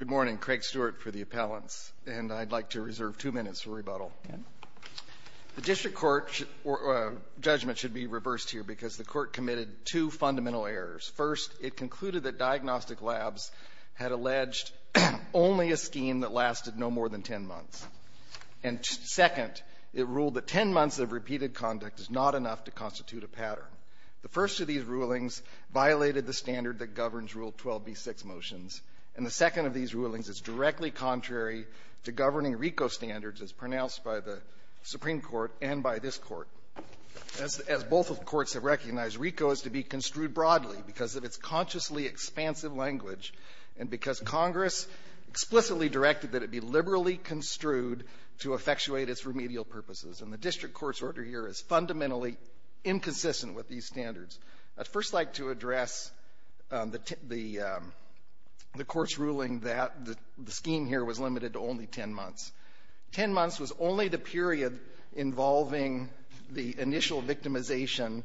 Good morning. Craig Stewart for the appellants, and I'd like to reserve two minutes for rebuttal. The district court judgment should be reversed here because the court committed two fundamental errors. First, it concluded that diagnostic labs had alleged only a scheme that lasted no more than 10 months. And second, it ruled that 10 months of repeated conduct is not enough to constitute a pattern. The first of these rulings violated the standard that governs Rule 12b-6 motions. And the second of these rulings is directly contrary to governing RICO standards as pronounced by the Supreme Court and by this Court. As both of the courts have recognized, RICO is to be construed broadly because of its consciously expansive language and because Congress explicitly directed that it be liberally construed to effectuate its remedial purposes. And the district court's order here is fundamentally inconsistent with these standards. I'd first like to address the court's ruling that the scheme here was limited to only 10 months. Ten months was only the period involving the initial victimization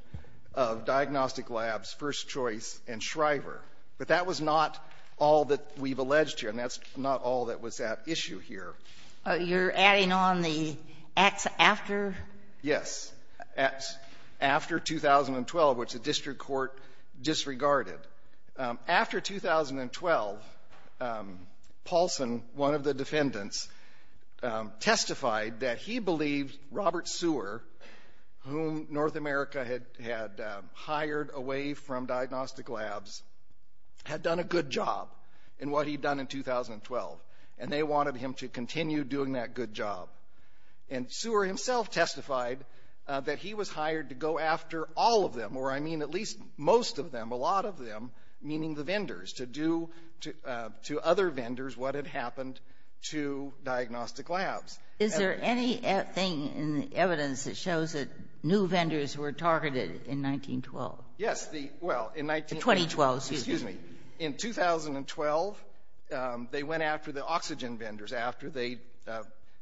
of diagnostic labs, First Choice, and Shriver. But that was not all that we've alleged here, and that's not all that was at issue here. You're adding on the acts after? Yes. After 2012, which the district court disregarded. After 2012, Paulson, one of the defendants, testified that he believed Robert Seward, whom North America had hired away from diagnostic labs, had done a good job in what he'd done in 2012. And they wanted him to continue doing that good job. And Seward himself testified that he was hired to go after all of them, or I mean at least most of them, a lot of them, meaning the vendors, to do to other vendors what had happened to diagnostic labs. Is there anything in the evidence that shows that new vendors were targeted in 1912? Yes. The 2012, excuse me. In 2012, they went after the oxygen vendors after they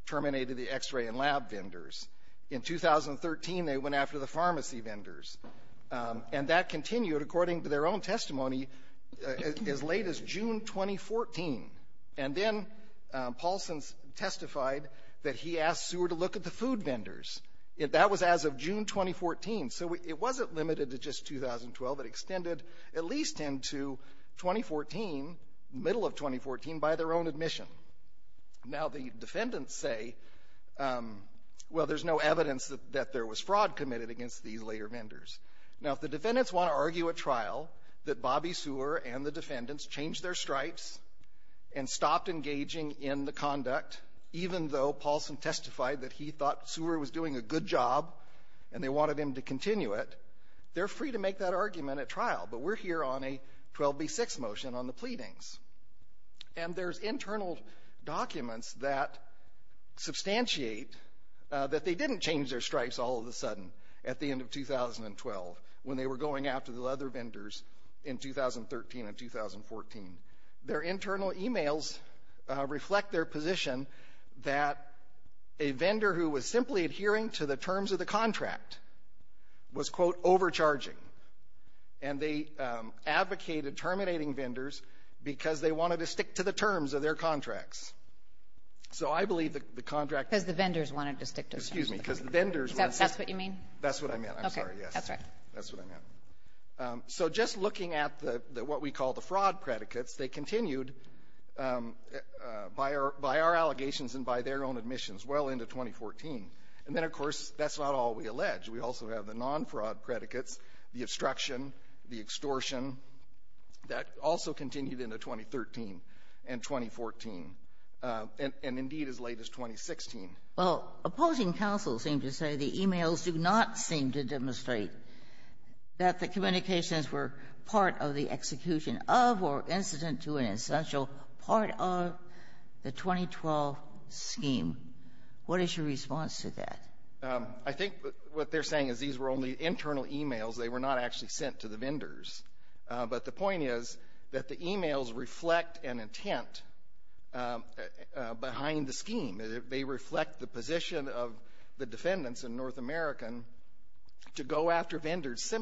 terminated the x-ray and lab vendors. In 2013, they went after the pharmacy vendors. And that continued, according to their own testimony, as late as June 2014. And then Paulson testified that he asked Seward to look at the food vendors. That was as of June 2014. So it wasn't limited to just 2012. It extended at least into 2014, middle of 2014, by their own admission. Now, the defendants say, well, there's no evidence that there was fraud committed against these later vendors. Now, if the defendants want to argue at trial that Bobby Seward and the defendants changed their stripes and stopped engaging in the conduct, even though Paulson testified that he thought Seward was doing a good job and they wanted him to continue it, they're free to make that argument at trial. But we're here on a 12B6 motion on the pleadings. And there's internal documents that substantiate that they didn't change their stripes all of a sudden at the end of 2012 when they were going after the other vendors in 2013 and 2014. Their internal emails reflect their position that a vendor simply adhering to the terms of the contract was, quote, overcharging. And they advocated terminating vendors because they wanted to stick to the terms of their contracts. So I believe the contract was the vendors wanted to stick to the terms of the contract. That's what you mean? That's what I meant. I'm sorry. Yes. Okay. That's right. That's what I meant. So just looking at the what we call the fraud predicates, they continued, by our allegations and by their own admissions, well into 2014. And then, of course, that's not all we allege. We also have the non-fraud predicates, the obstruction, the extortion. That also continued into 2013 and 2014, and indeed as late as 2016. Well, opposing counsel seem to say the emails do not seem to demonstrate that the communications were part of the execution of or incident to an essential part of the 2012 scheme. What is your response to that? I think what they're saying is these were only internal emails. They were not actually sent to the vendors. But the point is that the emails reflect an intent behind the scheme. They reflect the position of the defendants in North America to go after vendors,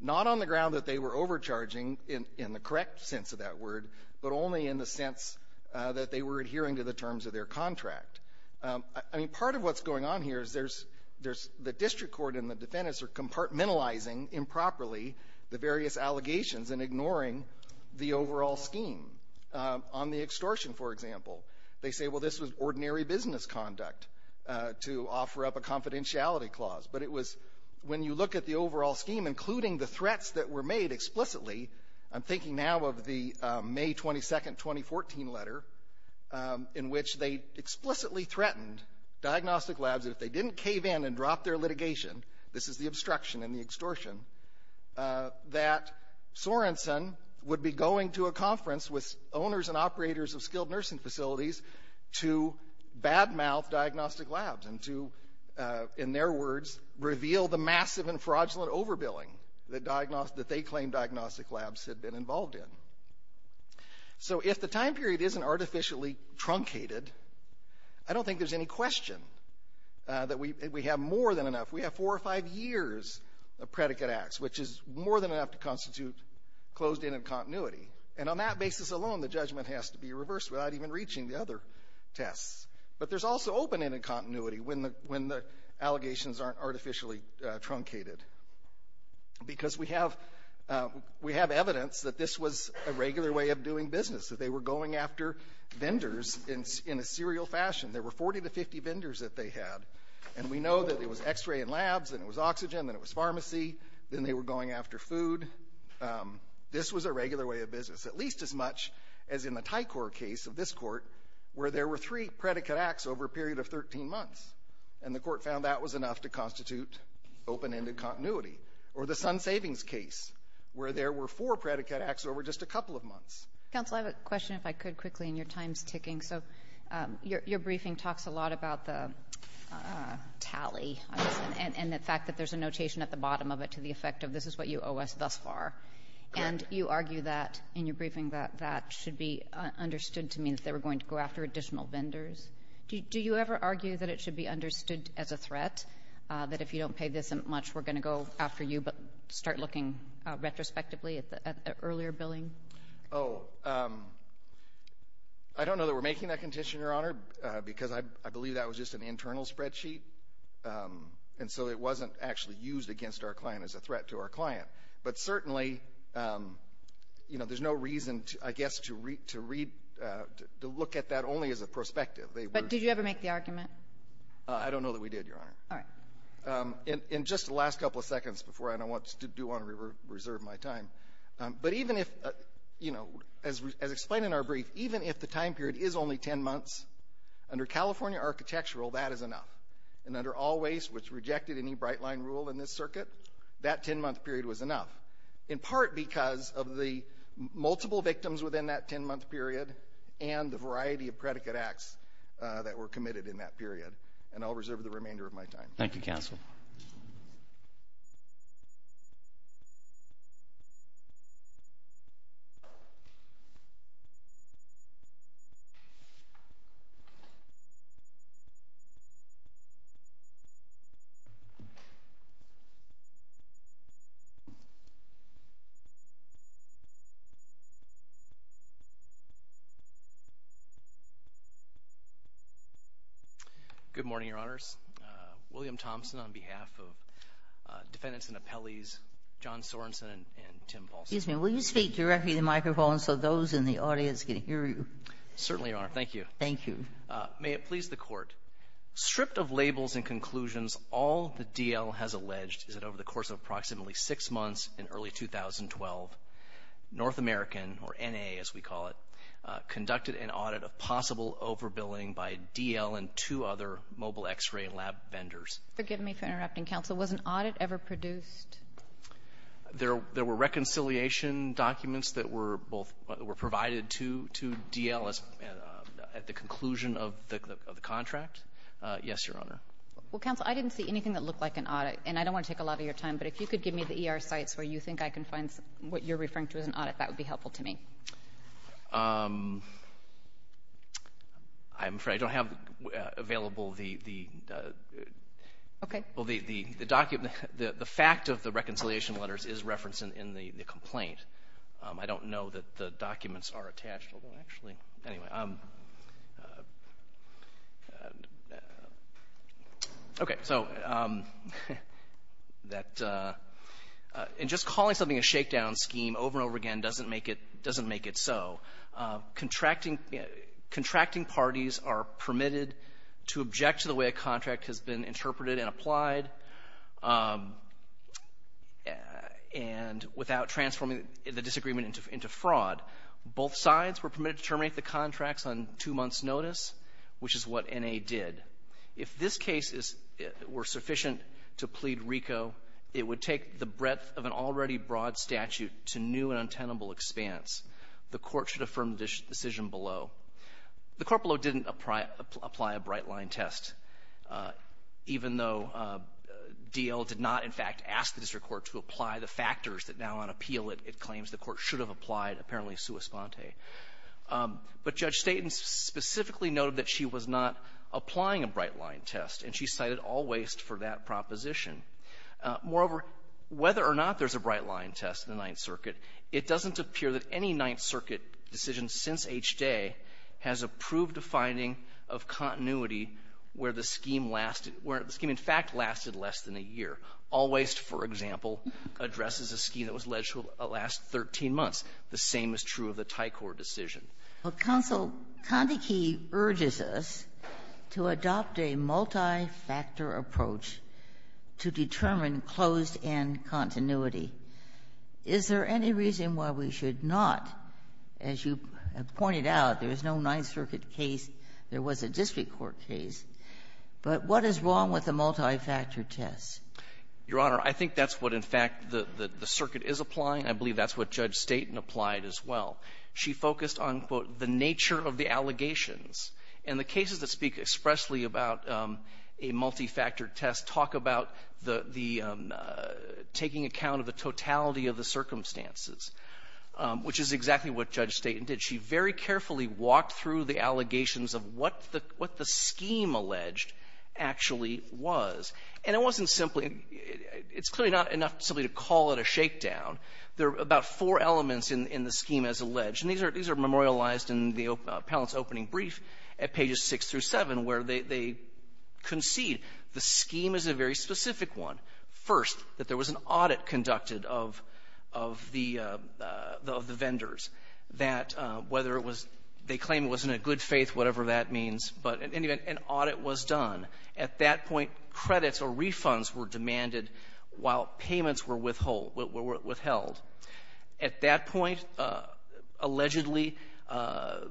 not on the ground that they were overcharging in the correct sense of that word, but only in the sense that they were adhering to the terms of their contract. I mean, part of what's going on here is there's the district court and the defendants are compartmentalizing improperly the various allegations and ignoring the overall scheme. On the extortion, for example, they say, well, this was ordinary business conduct to offer up a confidentiality clause. But it was when you look at the overall scheme, including the threats that were made explicitly, I'm thinking now of the May 22nd, 2014 letter, in which they explicitly threatened diagnostic labs if they didn't cave in and drop their litigation, this is the obstruction and the extortion, that Sorenson would be going to a conference with owners and operators of skilled nursing facilities to badmouth diagnostic labs and to, in their words, reveal the massive and fraudulent overbilling that they claimed diagnostic labs had been involved in. So if the time period isn't artificially truncated, I don't think there's any question that we have more than enough. We have four or five years of predicate acts, which is more than enough to constitute closed-ended continuity. And on that basis alone, the judgment has to be reversed without even reaching the other tests. But there's also open-ended continuity when the allegations aren't artificially truncated, because we have evidence that this was a regular way of doing business, that they were going after vendors in a serial fashion. There were 40 to 50 vendors that they had, and we know that it was X-ray and labs, then it was oxygen, then it was pharmacy, then they were going after food. This was a regular way of business, at least as much as in the Tycor case of this court, where there were three predicate acts over a period of 13 months. And the court found that was enough to constitute open-ended continuity. Or the Sun Savings case, where there were four predicate acts over just a couple of months. Counsel, I have a question, if I could, quickly, and your time's ticking. So your briefing talks a lot about the tally and the fact that there's a notation at the bottom of it to the effect of this is what you owe us thus far. And you argue that in your briefing that that should be understood to mean that they were going to go after additional vendors. Do you ever argue that it should be understood as a threat, that if you don't pay this much, we're going to go after you, but start looking retrospectively at the earlier billing? Oh, I don't know that we're making that condition, Your Honor, because I believe that was just an internal spreadsheet. And so it wasn't actually used against our client as a threat to our client. But certainly, you know, there's no reason, I guess, to read to look at that only as a perspective. But did you ever make the argument? I don't know that we did, Your Honor. All right. In just the last couple of seconds before I don't want to do on reserve my time. But even if, you know, as explained in our brief, even if the time period is only 10 months, under California architectural, that is enough. And under all waste, which rejected any Brightline rule in this circuit, that 10-month period was enough, in part because of the multiple victims within that 10-month period and the variety of predicate acts that were committed in that period. And I'll reserve the remainder of my time. Thank you, counsel. Good morning, Your Honors. William Thompson on behalf of defendants and appellees, John Sorenson and Tim Paulson. Excuse me. Will you speak directly to the microphone so those in the audience can hear you? Certainly, Your Honor. Thank you. Thank you. May it please the Court. Stripped of labels and conclusions, all the DL has alleged is that over the course of approximately 6 months in early 2012, North American, or N.A. as we call it, conducted an audit of possible overbilling by DL and two other mobile X-ray lab vendors. Forgive me for interrupting, counsel. Was an audit ever produced? There were reconciliation documents that were both provided to DL at the conclusion of the contract. Yes, Your Honor. Well, counsel, I didn't see anything that looked like an audit. And I don't want to take a lot of your time, but if you could give me the ER sites where you think I can find what you're referring to as an audit, that would be helpful to me. I'm afraid I don't have available the document. The fact of the reconciliation letters is referenced in the complaint. I don't know that the documents are attached, although actually, anyway, okay. So that, and just calling something a shakedown scheme over and over again doesn't make it so. Contracting parties are permitted to object to the way a contract has been interpreted and applied, and without transforming the disagreement into fraud. Both sides were permitted to terminate the contracts on two months' notice, which is what N.A. did. If this case were sufficient to plead RICO, it would take the breadth of an already broad statute to new and untenable expanse. The Court should affirm the decision below. The court below didn't apply a bright-line test, even though DL did not, in fact, ask the district court to apply the factors that now, on appeal, it claims the court should have applied, apparently, sua sponte. But Judge Staton specifically noted that she was not applying a bright-line test, and she cited All Waste for that proposition. Moreover, whether or not there's a bright-line test in the Ninth Circuit, it doesn't appear that any Ninth Circuit decision since H-Day has approved a finding of continuity where the scheme lasted, where the scheme, in fact, lasted less than a year. All Waste, for example, addresses a scheme that was alleged to last 13 months. The same is true of the Tycor decision. Ginsburg. Well, Counsel, Condeke urges us to adopt a multi-factor approach to determine closed-end continuity. Is there any reason why we should not? As you have pointed out, there is no Ninth Circuit case. There was a district court case. But what is wrong with a multi-factor test? Your Honor, I think that's what, in fact, the circuit is applying. I believe that's what Judge Staton applied as well. She focused on, quote, the nature of the allegations. And the cases that speak expressly about a multi-factor test talk about the — taking account of the totality of the circumstances, which is exactly what Judge Staton did. She very carefully walked through the allegations of what the — what the scheme alleged actually was. And it wasn't simply — it's clearly not enough simply to call it a shakedown. There are about four elements in the scheme as alleged. And these are memorialized in the appellant's opening brief at pages 6 through 7, where they concede the scheme is a very specific one. First, that there was an audit conducted of the vendors that whether it was — they claim it was in a good faith, whatever that means. But in any event, an audit was done. At that point, credits or refunds were demanded while payments were withhold — were withheld. At that point, allegedly, the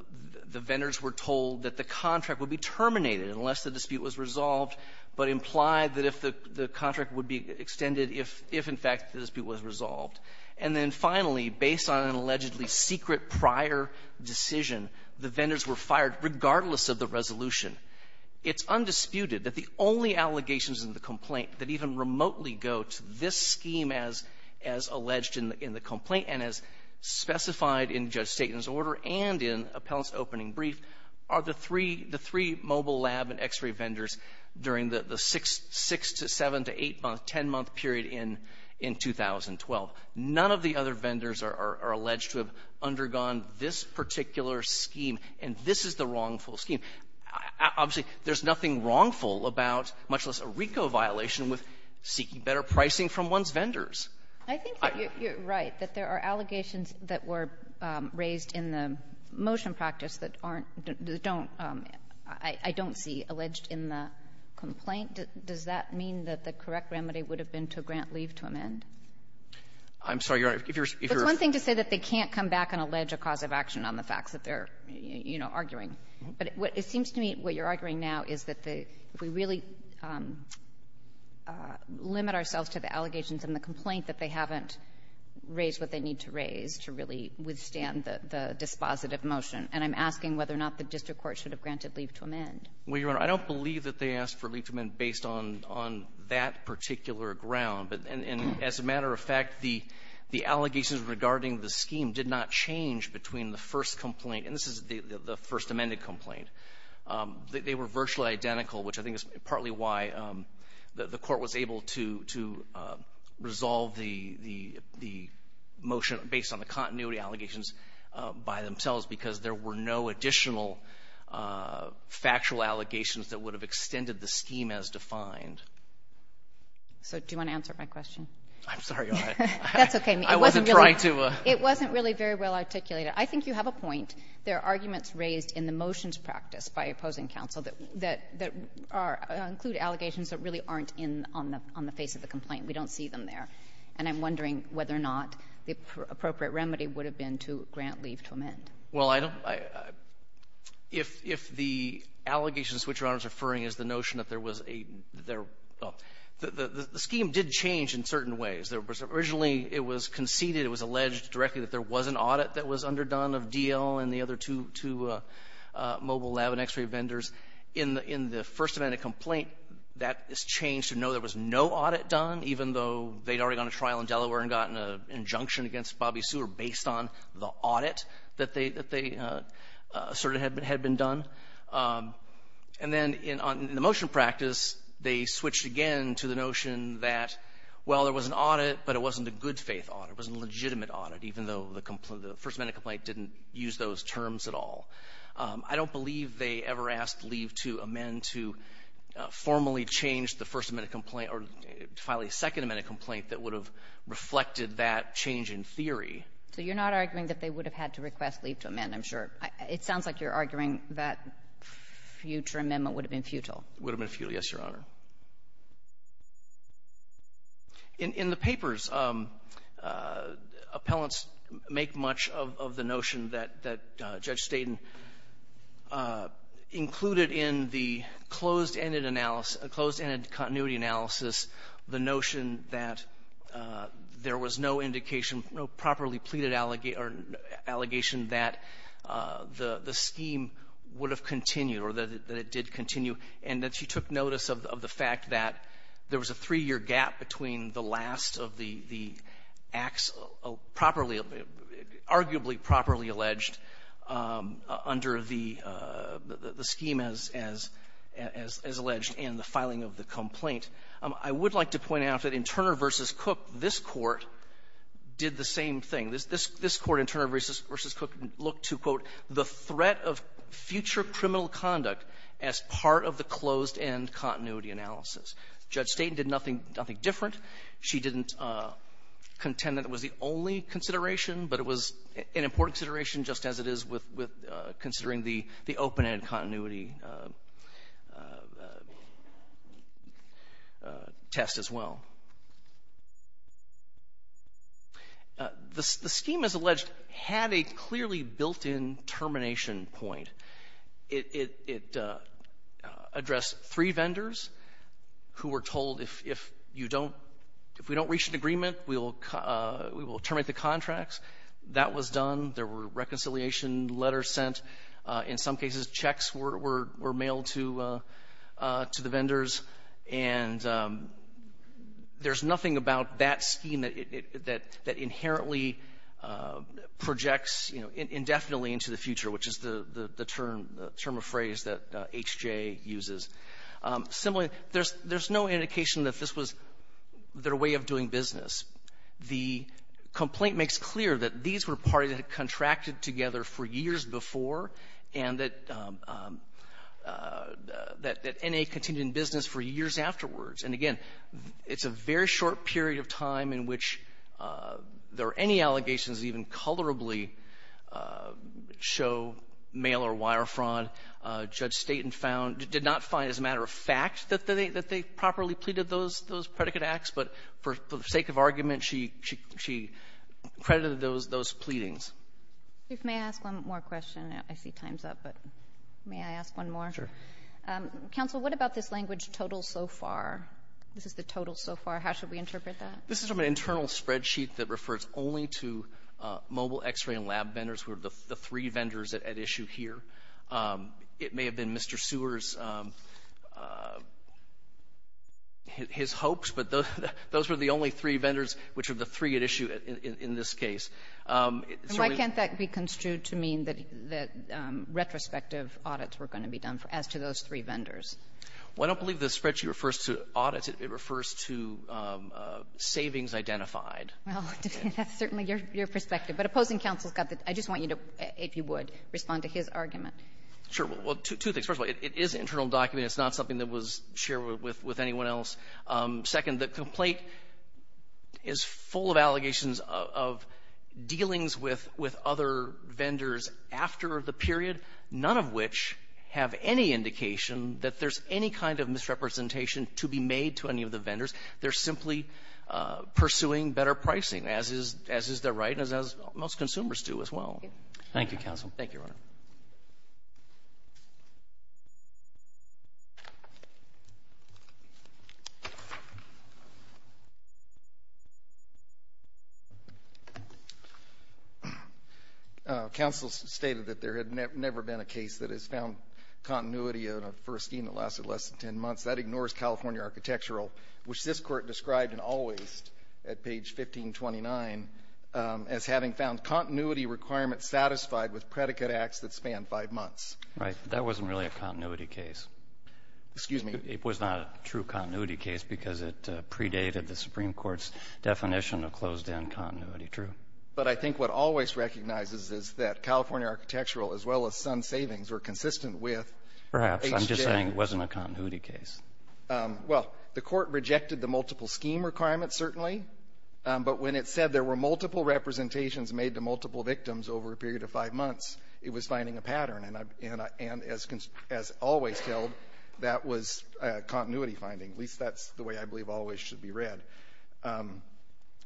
vendors were told that the contract would be terminated unless the dispute was resolved, but implied that if the — the contract would be extended if — if, in fact, the dispute was resolved. And then, finally, based on an allegedly secret prior decision, the vendors were fired regardless of the resolution. It's undisputed that the only allegations in the complaint that even remotely go to this scheme as — as alleged in the complaint and as specified in Judge Staton's order and in appellant's opening brief are the three — the three mobile lab and x-ray vendors during the six — six to seven to eight-month, ten-month period in — in 2012. None of the other vendors are alleged to have undergone this particular scheme. And this is the wrongful scheme. Obviously, there's nothing wrongful about, much less a RICO violation, with seeking better pricing from one's vendors. I think that you're — you're right, that there are allegations that were raised in the motion practice that aren't — that don't — I don't see alleged in the complaint. Does that mean that the correct remedy would have been to grant leave to amend? I'm sorry, Your Honor. If you're — It's one thing to say that they can't come back and allege a cause of action on the It seems to me what you're arguing now is that the — if we really limit ourselves to the allegations in the complaint, that they haven't raised what they need to raise to really withstand the — the dispositive motion. And I'm asking whether or not the district court should have granted leave to amend. Well, Your Honor, I don't believe that they asked for leave to amend based on — on that particular ground. And as a matter of fact, the — the allegations regarding the scheme did not change between the first complaint — and this is the — the first amended complaint. They were virtually identical, which I think is partly why the court was able to — to resolve the — the — the motion based on the continuity allegations by themselves, because there were no additional factual allegations that would have extended the scheme as defined. So do you want to answer my question? I'm sorry, Your Honor. That's okay. I wasn't trying to — It wasn't really very well articulated. I think you have a point. There are arguments raised in the motions practice by opposing counsel that — that are — include allegations that really aren't in — on the — on the face of the complaint. We don't see them there. And I'm wondering whether or not the appropriate remedy would have been to grant leave to amend. Well, I don't — if — if the allegations to which Your Honor is referring is the notion that there was a — that there — well, the scheme did change in certain ways. There was — originally, it was conceded, it was alleged directly that there was an audit in the other two — two mobile lab and x-ray vendors. In the — in the first amendment complaint, that has changed to know there was no audit done, even though they'd already gone to trial in Delaware and gotten an injunction against Bobby Seward based on the audit that they — that they asserted had been — had been done. And then in — in the motion practice, they switched again to the notion that, well, there was an audit, but it wasn't a good-faith audit. It was a legitimate audit, even though the — the first amendment complaint didn't use those terms at all. I don't believe they ever asked leave to amend to formally change the first amendment complaint or to file a second amendment complaint that would have reflected that change in theory. So you're not arguing that they would have had to request leave to amend, I'm sure. It sounds like you're arguing that future amendment would have been futile. It would have been futile, yes, Your Honor. In — in the papers, appellants make much of the notion that — that Judge Steyden included in the closed-ended analysis — closed-ended continuity analysis the notion that there was no indication, no properly pleaded allegation that the scheme would have continued, or that it did continue, and that she took notice of the fact that there was a three-year gap between the last of the — the acts properly — arguably properly alleged under the scheme as — as alleged and the filing of the complaint. I would like to point out that in Turner v. Cook, this Court did the same thing. This — this Court, in Turner v. Cook, looked to, quote, the threat of future criminal conduct as part of the closed-end continuity analysis. Judge Steyden did nothing — nothing different. She didn't contend that it was the only consideration, but it was an important consideration, just as it is with — with considering the — the open-ended continuity test as well. The scheme, as alleged, had a clearly built-in termination point. It — it addressed three vendors who were told, if — if you don't — if we don't reach an agreement, we will — we will terminate the contracts. That was done. There were reconciliation letters sent. In some cases, checks were — were mailed to — to the vendors. And there's nothing about that scheme that — that inherently projects, you know, indefinitely into the future, which is the — the term — the term of phrase that H.J. uses. Similarly, there's — there's no indication that this was their way of doing business. The complaint makes clear that these were parties that had contracted together for years before, and that — that N.A. continued in business for years afterwards. And again, it's a very short period of time in which there are any allegations that even colorably show mail-or-wire fraud. Judge Staton found — did not find, as a matter of fact, that they — that they properly pleaded those — those predicate acts. But for the sake of argument, she — she credited those — those pleadings. If — may I ask one more question? I see time's up, but may I ask one more? Sure. Counsel, what about this language, total so far? This is the total so far. How should we interpret that? This is from an internal spreadsheet that refers only to mobile X-ray and lab vendors who are the — the three vendors at — at issue here. It may have been Mr. Seward's — his hopes, but those — those were the only three vendors which are the three at issue in — in this case. And why can't that be construed to mean that — that retrospective audits were going to be done as to those three vendors? Well, I don't believe the spreadsheet refers to audits. It refers to savings identified. Well, that's certainly your — your perspective. But opposing counsel's got the — I just want you to, if you would, respond to his argument. Sure. Well, two things. First of all, it is an internal document. It's not something that was shared with — with anyone else. Second, the complaint is full of allegations of — of dealings with — with other vendors after the period, none of which have any indication that there's any kind of misrepresentation to be made to any of the vendors. They're simply pursuing better pricing, as is — as is the right and as most consumers do as well. Thank you, counsel. Thank you, Your Honor. Counsel stated that there had never been a case that has found continuity in a first scheme that lasted less than 10 months. That ignores California architectural, which this Court described in Always at page 1529 as having found continuity requirements satisfied with predicate acts that span five months. Right. That wasn't really a continuity case. Excuse me. It was not a true continuity case because it predated the Supreme Court's definition of closed-end continuity. True. But I think what Always recognizes is that California architectural, as well as Sun Savings, were consistent with age-sharing. Perhaps. I'm just saying it wasn't a continuity case. Well, the Court rejected the multiple scheme requirement, certainly. But when it said there were multiple representations made to multiple victims over a period of five months, it was finding a pattern. And I — and as — as Always held, that was continuity finding. At least that's the way I believe Always should be read.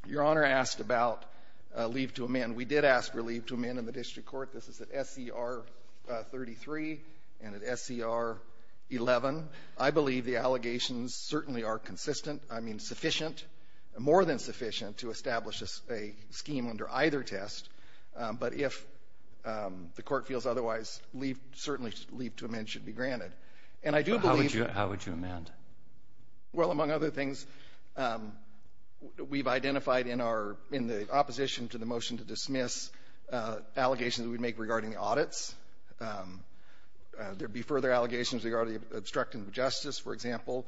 Your Honor asked about leave to amend. We did ask for leave to amend in the district court. This is at SCR 33 and at SCR 11. I believe the allegations certainly are consistent — I mean, sufficient. More than sufficient to establish a scheme under either test. But if the Court feels otherwise, leave — certainly leave to amend should be granted. And I do believe — How would you — how would you amend? Well, among other things, we've identified in our — in the opposition to the motion to dismiss allegations we'd make regarding the audits. There'd be further allegations regarding obstructing justice, for example.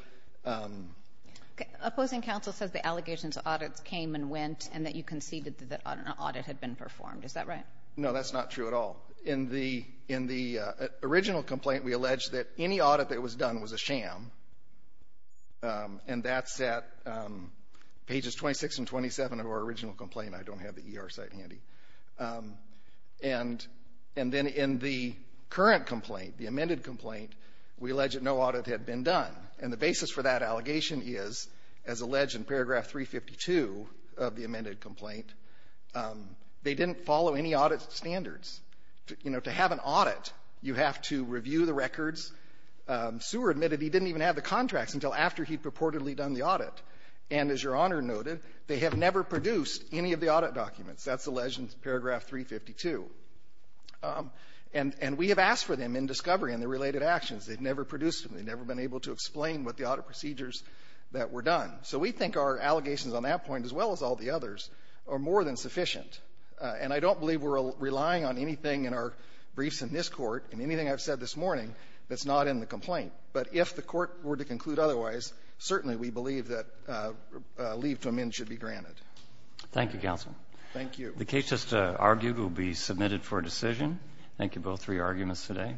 Opposing counsel says the allegations of audits came and went and that you conceded that an audit had been performed. Is that right? No, that's not true at all. In the — in the original complaint, we alleged that any audit that was done was a sham. And that's at pages 26 and 27 of our original complaint. I don't have the ER site handy. And — and then in the current complaint, the amended complaint, we alleged that no audit had been done. And the basis for that allegation is, as alleged in paragraph 352 of the amended complaint, they didn't follow any audit standards. You know, to have an audit, you have to review the records. Seward admitted he didn't even have the contracts until after he'd purportedly done the audit. And as Your Honor noted, they have never produced any of the audit documents. That's alleged in paragraph 352. And — and we have asked for them in discovery and the related actions. They've never produced them. They've never been able to explain what the audit procedures that were done. So we think our allegations on that point, as well as all the others, are more than sufficient. And I don't believe we're relying on anything in our briefs in this Court, in anything I've said this morning, that's not in the complaint. But if the Court were to conclude otherwise, certainly we believe that leave to amend should be granted. Thank you, Counsel. Thank you. The case just argued will be submitted for decision. Thank you both for your arguments today.